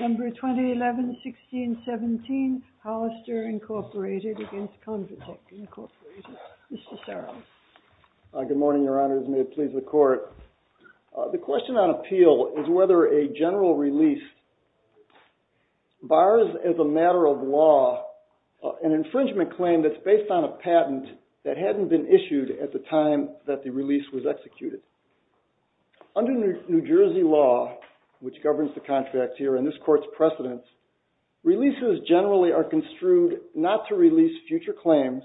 2011-16-17 HOLLISTER INC v. CONVATEC The question on appeal is whether a general release bars as a matter of law an infringement claim that's based on a patent that hadn't been issued at the time that the release was executed. Under New Jersey law, which governs the contract here and this court's precedents, releases generally are construed not to release future claims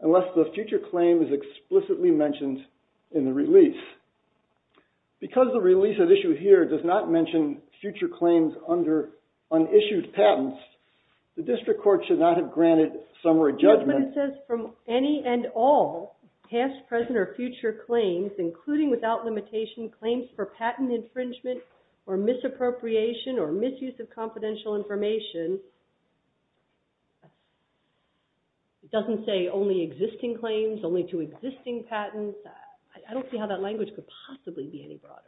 unless the future claim is explicitly mentioned in the release. Because the release at issue here does not mention future claims under unissued patents, the district court should not have granted summary judgment. But it says from any and all past, present, or future claims, including without limitation claims for patent infringement or misappropriation or misuse of confidential information, it doesn't say only existing claims, only to existing patents. I don't see how that language could possibly be any broader.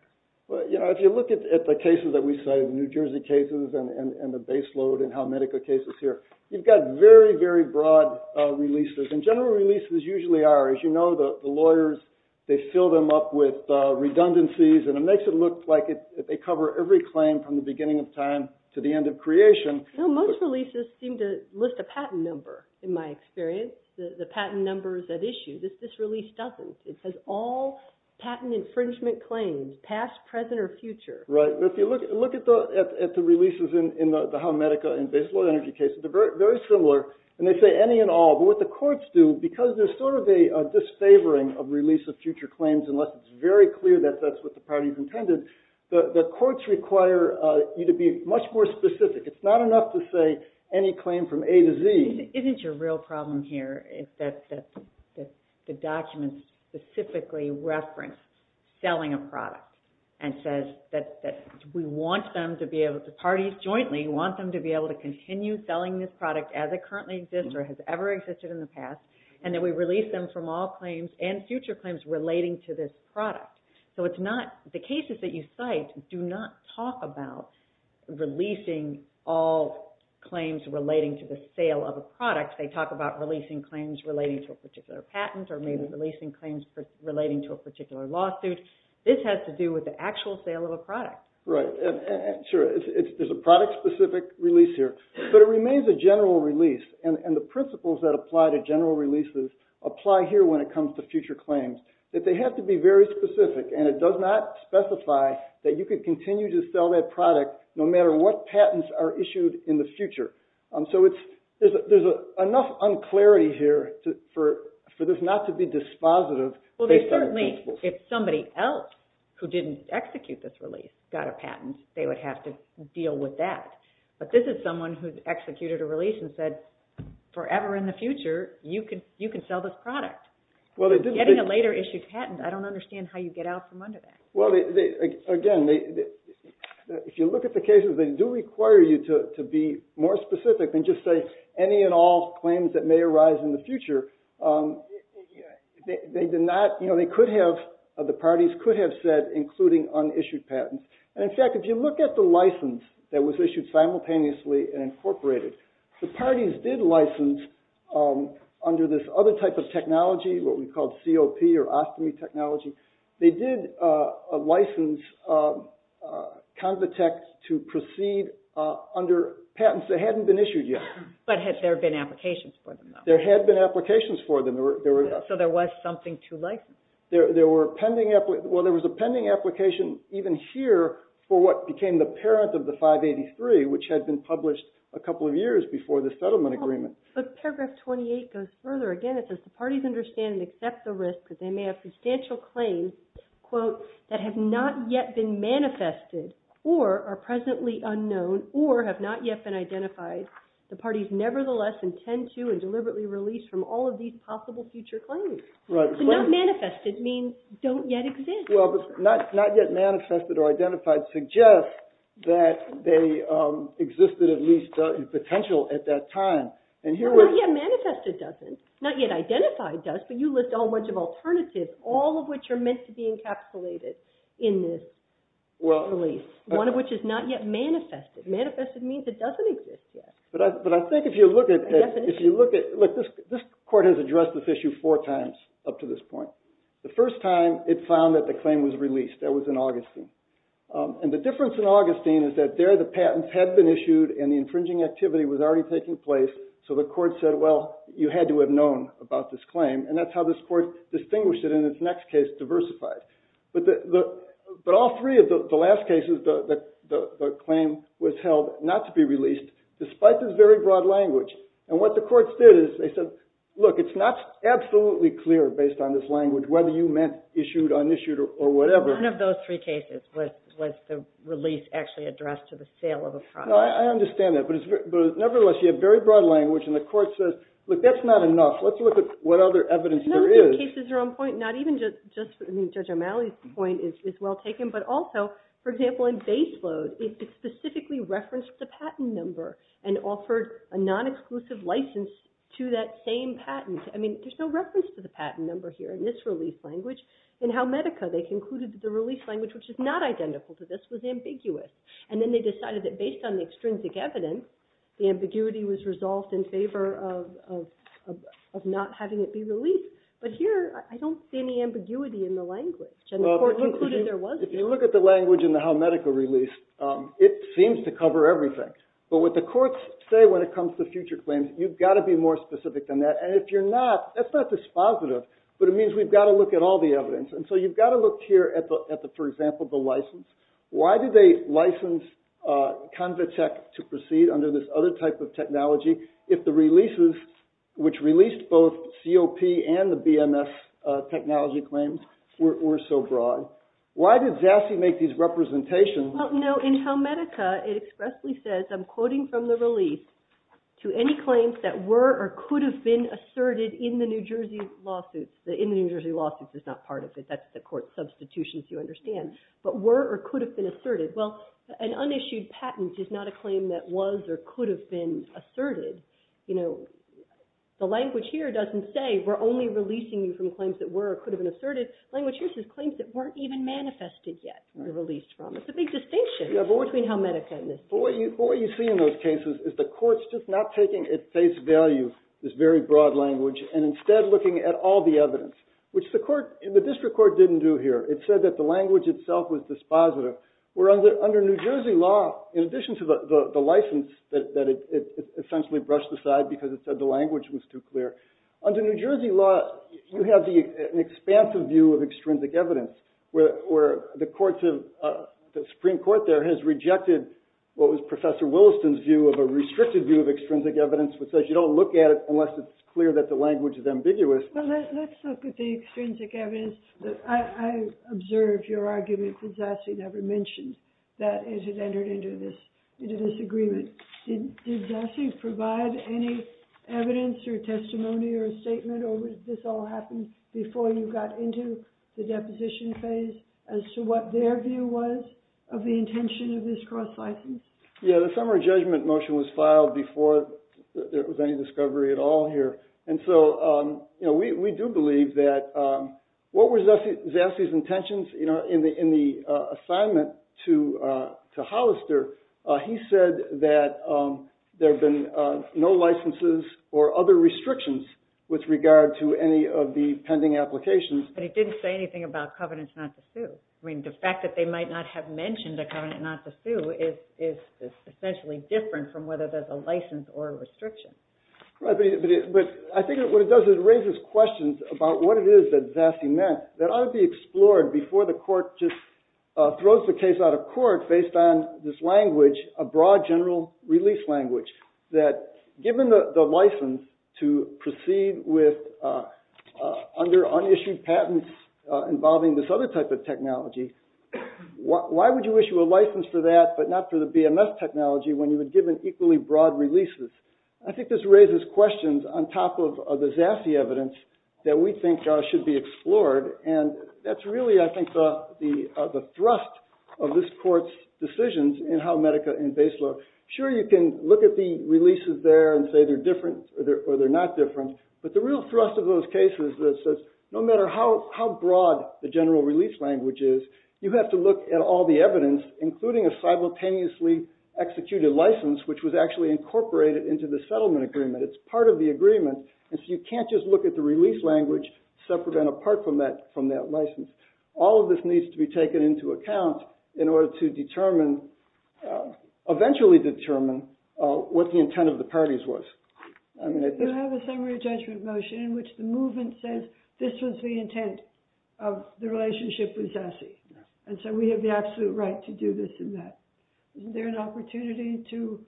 But, you know, if you look at the cases that we cited, New Jersey cases and the baseload in how Medica cases here, you've got very, very broad releases. And general releases usually are, as you know, the lawyers, they fill them up with redundancy and it makes it look like they cover every claim from the beginning of time to the end of creation. You know, most releases seem to list a patent number, in my experience, the patent numbers at issue. This release doesn't. It says all patent infringement claims, past, present, or future. Right. If you look at the releases in the how Medica and baseload energy cases, they're very similar. And they say any and all. But what the courts do, because there's sort of a disfavoring of release of future claims unless it's very clear that that's what the party's intended, the courts require you to be much more specific. It's not enough to say any claim from A to Z. Isn't your real problem here is that the documents specifically reference selling a product? And says that we want them to be able to, the parties jointly, want them to be able to continue selling this product as it currently exists or has ever existed in the past. And that we release them from all claims and future claims relating to this product. So it's not, the cases that you cite do not talk about releasing all claims relating to the sale of a product. They talk about releasing claims relating to a particular patent or maybe releasing claims relating to a particular lawsuit. This has to do with the actual sale of a product. Right. Sure. There's a product specific release here. But it remains a general release. And the principles that apply to general releases apply here when it comes to future claims. That they have to be very specific and it does not specify that you could continue to sell that product no matter what patents are issued in the future. So there's enough un-clarity here for this not to be dispositive based on the principles. Well, certainly, if somebody else who didn't execute this release got a patent, they would have to deal with that. But this is someone who's executed a release and said, forever in the future, you can sell this product. Well, they didn't. Getting a later issued patent, I don't understand how you get out from under that. Well, again, if you look at the cases, they do require you to be more specific and just say any and all claims that may arise in the future, they did not, you know, they could have, the parties could have said including unissued patents. And in fact, if you look at the license that was issued simultaneously and incorporated, the parties did license under this other type of technology, what we call COP or ostomy technology, they did license Convitec to proceed under patents that hadn't been issued yet. But had there been applications for them, though? There had been applications for them. So there was something to license? There were pending, well, there was a pending application even here for what became the parent of the 583, which had been published a couple of years before the settlement agreement. But paragraph 28 goes further. Again, it says, the parties understand and accept the risk that they may have substantial claims, quote, that have not yet been manifested or are presently unknown or have not yet been identified. The parties nevertheless intend to and deliberately release from all of these possible future claims. So not manifested means don't yet exist. Well, but not yet manifested or identified suggests that they existed at least in potential at that time. Well, not yet manifested doesn't, not yet identified does, but you list a whole bunch of alternatives, all of which are meant to be encapsulated in this release, one of which is not yet manifested. Manifested means it doesn't exist yet. But I think if you look at, if you look at, look, this court has addressed this issue four times up to this point. The first time it found that the claim was released, that was in Augustine. And the difference in Augustine is that there the patents had been issued and the infringing activity was already taking place, so the court said, well, you had to have known about this claim. And that's how this court distinguished it in its next case, diversified. But all three of the last cases, the claim was held not to be released despite this very broad language. And what the courts did is they said, look, it's not absolutely clear based on this language whether you meant issued, unissued, or whatever. None of those three cases was the release actually addressed to the sale of a product. No, I understand that. But nevertheless, you have very broad language. And the court says, look, that's not enough. Let's look at what other evidence there is. I mean, Judge O'Malley's point is well taken, but also, for example, in Baseload, it specifically referenced the patent number and offered a non-exclusive license to that same patent. I mean, there's no reference to the patent number here in this release language. In Halmedica, they concluded that the release language, which is not identical to this, was ambiguous. And then they decided that based on the extrinsic evidence, the ambiguity was resolved in favor of not having it be released. But here, I don't see any ambiguity in the language. And the court concluded there wasn't. If you look at the language in the Halmedica release, it seems to cover everything. But what the courts say when it comes to future claims, you've got to be more specific than that. And if you're not, that's not dispositive. But it means we've got to look at all the evidence. And so you've got to look here at the, for example, the license. Why did they license Convitec to proceed under this other type of technology if the releases, which released both COP and the BMS technology claims, were so broad? Why did Zassy make these representations? Well, no. In Halmedica, it expressly says, I'm quoting from the release, to any claims that were or could have been asserted in the New Jersey lawsuits. The in the New Jersey lawsuits is not part of it. That's the court's substitution, as you understand. But were or could have been asserted. Well, an unissued patent is not a claim that was or could have been asserted. You know, the language here doesn't say we're only releasing you from claims that were or could have been asserted. Language here says claims that weren't even manifested yet were released from. It's a big distinction between Halmedica and this. But what you see in those cases is the court's just not taking at face value this very broad language and instead looking at all the evidence, which the district court didn't do here. It said that the language itself was dispositive. Where under New Jersey law, in addition to the license that it essentially brushed aside because it said the language was too clear, under New Jersey law, you have an expansive view of extrinsic evidence where the Supreme Court there has rejected what was Professor Williston's view of a restricted view of extrinsic evidence which says you don't look at it unless it's clear that the language is ambiguous. Let's look at the extrinsic evidence. I observed your argument that Zassi never mentioned that it had entered into this agreement. Did Zassi provide any evidence or testimony or statement or did this all happen before you got into the deposition phase as to what their view was of the intention of this cross-license? Yeah, the summary judgment motion was filed before there was any discovery at all here. We do believe that what were Zassi's intentions in the assignment to Hollister? He said that there have been no licenses or other restrictions with regard to any of the pending applications. But he didn't say anything about covenants not to sue. The fact that they might not have mentioned a covenant not to sue is essentially different from whether there's a license or a restriction. Right, but I think what it does is it raises questions about what it is that Zassi meant that ought to be explored before the court just throws the case out of court based on this language, a broad general release language that given the license to proceed with under unissued patents involving this other type of technology why would you issue a license for that but not for the BMS technology when you were given equally broad releases? I think this raises questions on top of the Zassi evidence that we think should be explored and that's really, I think, the thrust of this court's decisions in how Medica and BASE look. Sure, you can look at the releases there and say they're different or they're not different but the real thrust of those cases is that no matter how broad the general release language is you have to look at all the evidence including a simultaneously executed license which was actually incorporated into the settlement agreement it's part of the agreement and so you can't just look at the release language separate and apart from that license. All of this needs to be taken into account in order to eventually determine what the intent of the parties was. You have a summary judgment motion in which the movement says this was the intent of the relationship with Zassi and so we have the absolute right to do this and that. Is there an opportunity to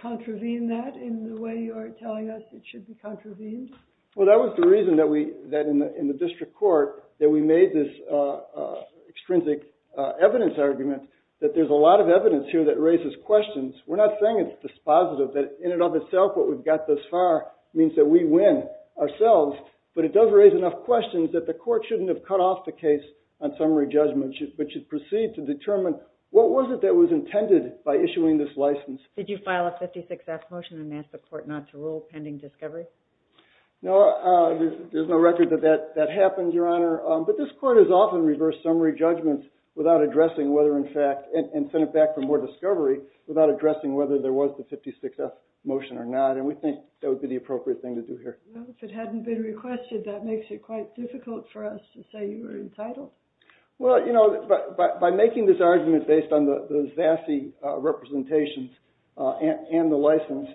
contravene that in the way you are telling us it should be contravened? Well, that was the reason that in the district court that we made this extrinsic evidence argument that there's a lot of evidence here that raises questions we're not saying it's dispositive that in and of itself what we've got thus far means that we win ourselves but it does raise enough questions that the court shouldn't have cut off the case on summary judgment but should proceed to determine what was it that was intended by issuing this license? Did you file a 56-F motion and ask the court not to rule pending discovery? No, there's no record that that happened, Your Honor but this court has often reversed summary judgment without addressing whether in fact and sent it back for more discovery without addressing whether there was the 56-F motion or not and we think that would be the appropriate thing to do here. Well, if it hadn't been requested that makes it quite difficult for us to say you were entitled. Well, you know, by making this argument based on the Zassi representations and the license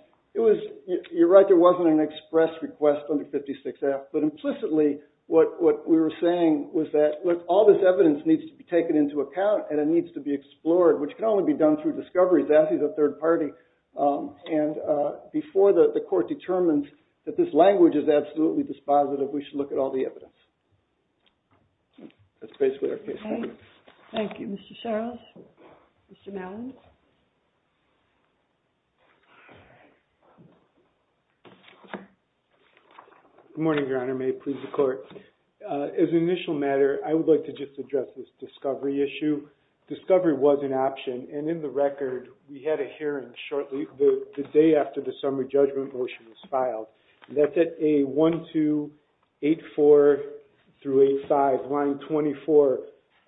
you're right, there wasn't an express request on the 56-F but implicitly what we were saying was that all this evidence needs to be taken into account and it needs to be explored which can only be done through discovery Zassi's a third party and before the court determines that this language is absolutely dispositive we should look at all the evidence. That's basically our case argument. Thank you, Mr. Charles. Mr. Malin. Good morning, Your Honor. May it please the court. As an initial matter I would like to just address this discovery issue. Discovery was an option and in the record we had a hearing shortly the day after the summary judgment motion was filed and that's at a 1, 2, 8, 4 through 8, 5, line 24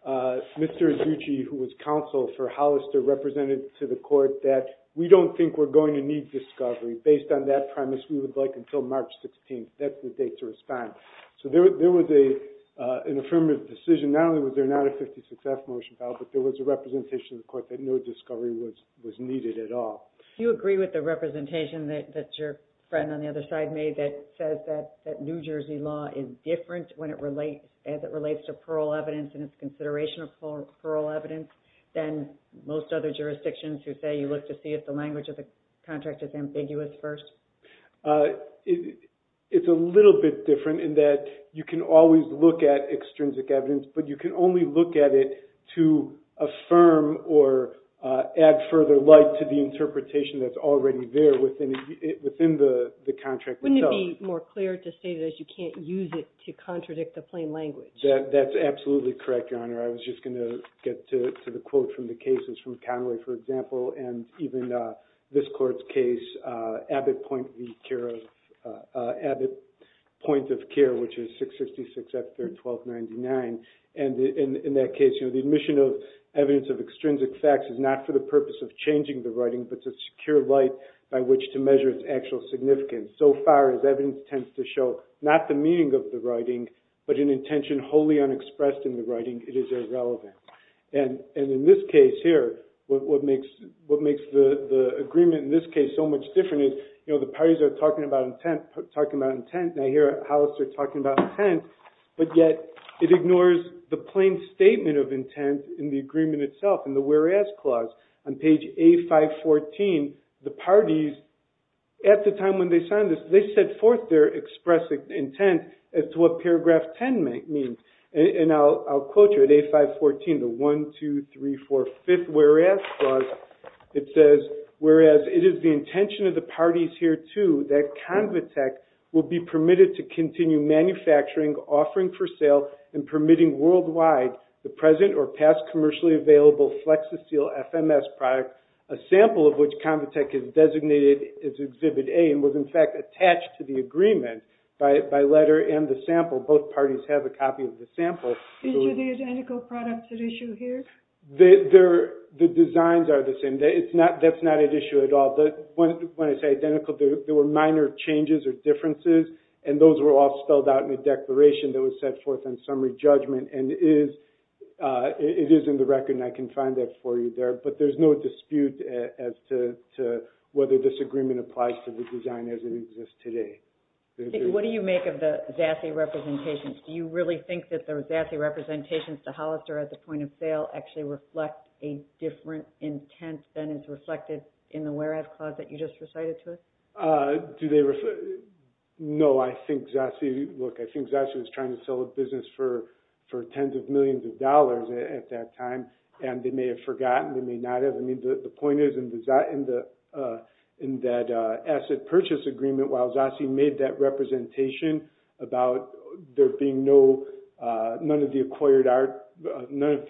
Mr. Izzucci who was counsel for Hollister represented to the court that we don't think we're going to need discovery based on that premise we would like until March 16th. That's the date to respond. So there was an affirmative decision. Not only was there not a 56-F motion filed but there was a representation in the court that no discovery was needed at all. Do you agree with the representation that your friend on the other side made that says that New Jersey law is different as it relates to plural evidence and its consideration of plural evidence than most other jurisdictions who say you look to see if the language of the contract is ambiguous first? It's a little bit different in that you can always look at extrinsic evidence but you can only look at it to affirm or add further light to the interpretation that's in the contract itself. Wouldn't it be more clear to state that you can't use it to contradict the plain language? That's absolutely correct, Your Honor. I was just going to get to the quote from the cases from Conway, for example, and even this court's case Abbott Point of Care which is 666-1299 and in that case the admission of evidence of extrinsic facts is not for the purpose of changing the writing but to secure light by which to measure its actual significance. So far as evidence tends to show not the meaning of the writing but an intention wholly unexpressed in the writing, it is irrelevant. And in this case here what makes the agreement in this case so much different is the parties are talking about intent and I hear Hollister talking about intent but yet it ignores the plain statement of intent in the agreement itself in the whereas clause. On page A514 the parties at the time when they signed this, they set forth their expressed intent as to what paragraph 10 means. And I'll quote you at A514 the 1, 2, 3, 4, 5th whereas clause it says, whereas it is the intention of the parties here too that Convitec will be permitted to continue manufacturing, offering for sale, and permitting worldwide the present or past commercially available Flexaseal FMS product, a sample of which Convitec has designated as Exhibit A and was in fact attached to the agreement by letter and the sample. Both parties have a copy of the sample. Are the identical products at issue here? The designs are the same. That's not at issue at all. When I say identical, there were minor changes or differences and those were all spelled out in a declaration that was set forth on summary judgment and it is in the record and I can find that for you there, but there's no dispute as to whether this agreement applies to the design as it exists today. What do you make of the Zassi representations? Do you really think that the Zassi representations to Hollister as a point of sale actually reflect a different intent than is reflected in the whereas clause that you just recited to us? No, I think Zassi, look, I think Zassi was trying to sell a business for tens of millions of dollars at that time and they may have forgotten, they may not have. I mean, the point is in that asset purchase agreement, while Zassi made that representation about there being no none of the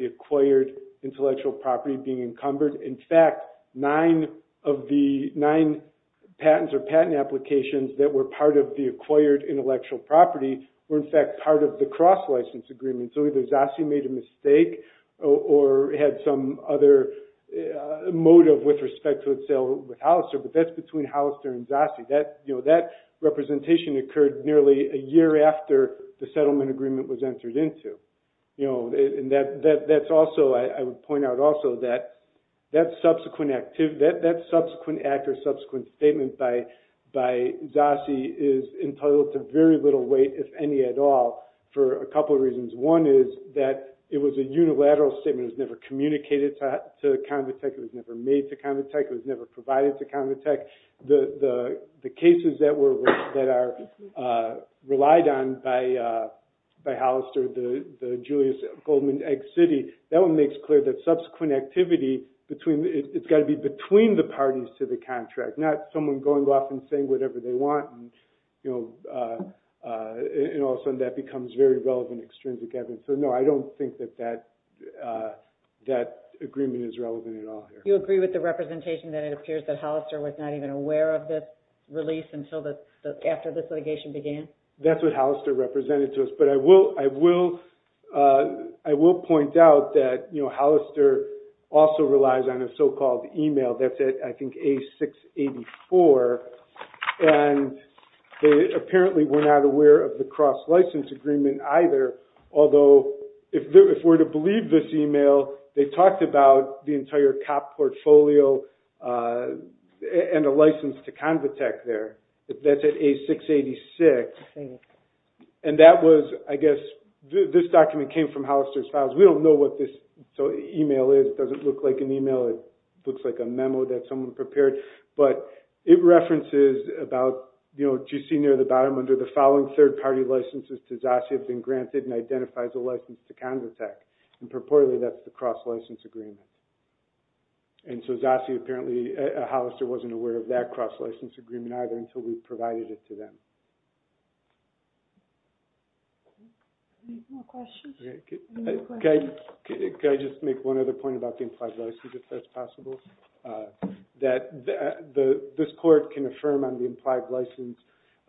acquired intellectual property being encumbered. In fact, nine of the patents or patent applications that were part of the acquired intellectual property were in fact part of the cross-license agreement, so either Zassi made a mistake or had some other motive with respect to its sale with Hollister, but that's between Hollister and Zassi. That representation occurred nearly a year after the settlement agreement was entered into. That's also, I would point out also that subsequent act or subsequent statement by Zassi is entitled to very little weight, if any at all, for a couple of reasons. One is that it was a unilateral statement. It was never communicated to Convitec. It was never made to Convitec. It was never provided to Convitec. The cases that are relied on by Hollister, the Julius Goldman Ex City, that one makes clear that subsequent activity, it's got to be between the parties to the contract, not someone going off and saying whatever they want and all of a sudden that becomes very relevant, extrinsic evidence. So no, I don't think that that agreement is relevant at all here. You agree with the representation that it appears that Hollister was not even aware of this release until this litigation began? That's what Hollister represented to us, but I will point out that Hollister also relies on a so-called email, that's I think A684, and apparently we're not aware of the cross-license agreement either, although if we're to believe this email, they talked about the entire cop portfolio and a license to Convitec there. That's at A686. And that was, I guess, this document came from Hollister's files. We don't know what this email is. It doesn't look like an email. It looks like a memo that someone prepared, but it references about GC near the bottom, under the following third-party licenses to ZASI have been granted and identify as a license to Convitec. And purportedly that's the cross-license agreement. And so ZASI apparently, Hollister wasn't aware of that cross-license agreement either until we provided it to them. Okay. Any more questions? Can I just make one other point about the implied license, if that's possible? That this court can affirm on the implied license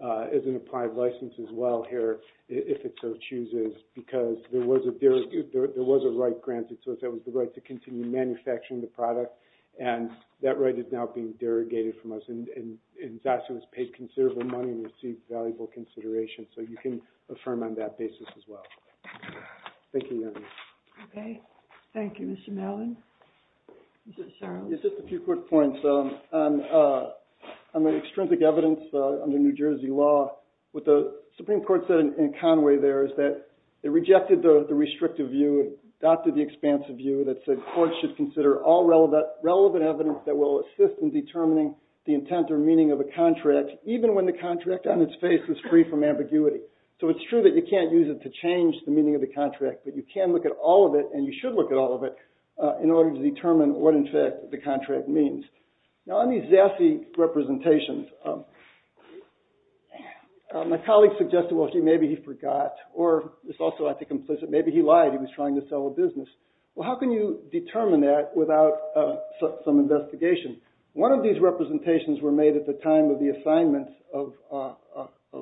as an applied license as well here if it so chooses, because there was a right granted so that was the right to continue manufacturing the product, and that right is now being derogated from us and ZASI was paid considerable money and received valuable consideration, so you can affirm on that basis as well. Thank you. Okay. Thank you, Mr. Mellon. Just a few quick points. On the extrinsic evidence under New Jersey law, what the Supreme Court said in Conway there is that they rejected the restrictive view and adopted the expansive view that said courts should consider all relevant evidence that will assist in determining the intent or meaning of a contract, even when the contract on its face is free from ambiguity. So it's true that you can't use it to change the meaning of the contract, but you can look at all of it, and you should look at all of it, in order to determine what, in fact, the contract means. Now on these ZASI representations, my colleague suggested, well, maybe he forgot, or it's also, I think, implicit, maybe he lied, he was trying to sell a business. Well, how can you determine that without some investigation? One of these representations were made at the time of the assignment of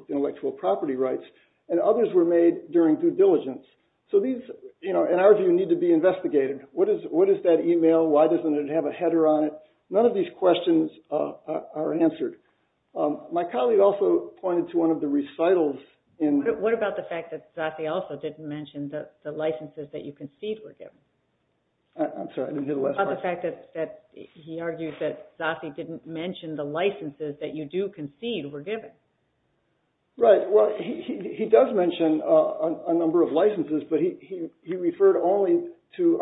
intellectual property rights, and others were made during due diligence. So these, in our view, need to be investigated. What is that email? Why doesn't it have a header on it? None of these questions are answered. My colleague also pointed to one of the recitals in... What about the fact that ZASI also didn't mention the licenses that you concede were given? I'm sorry, I didn't hear the last part. What about the fact that he argued that ZASI didn't mention the licenses that you do concede were given? Right, well, he does mention a number of licenses, but he referred only to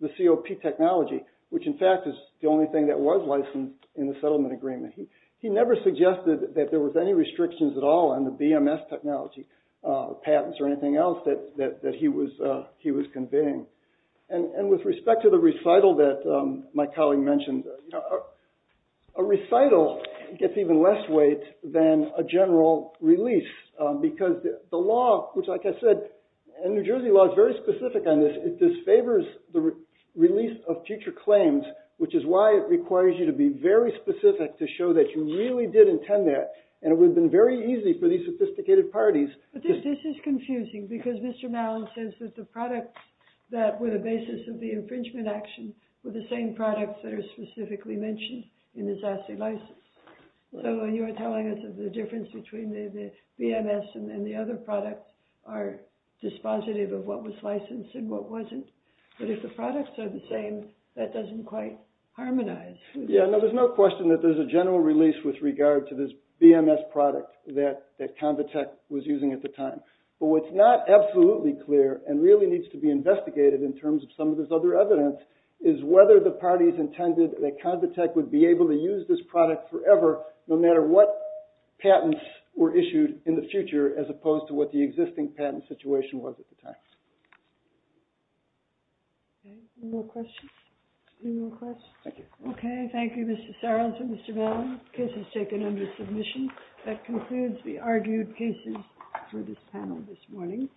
the COP technology, which in fact is the only thing that was licensed in the settlement agreement. He never suggested that there was any restrictions at all on the BMS technology, patents or anything else that he was conveying. And with respect to the recital that my colleague mentioned, a recital gets even less weight than a general release because the law, which like I said, and New Jersey law is very specific on this, it disfavors the release of future claims, which is why it requires you to be very specific to show that you really did intend that, and it would have been very easy for these sophisticated parties... This is confusing because Mr. Malin says that the products that were the basis of the infringement action were the same products that are specifically mentioned in the ZASI license. So you're telling us that the difference between the BMS and the other products are dispositive of what was licensed and what wasn't. But if the products are the same, that doesn't quite harmonize. Yeah, there's no question that there's a general release with regard to this BMS product that Convitec was using at the time. But what's not absolutely clear and really needs to be investigated in terms of some of this other evidence is whether the parties intended that Convitec would be able to use this product forever no matter what patents were issued in the future as opposed to what the existing patent situation was at the time. Any more questions? Any more questions? Okay, thank you Mr. Sarles and Mr. Malin. The case is taken under submission. That concludes the panel this morning.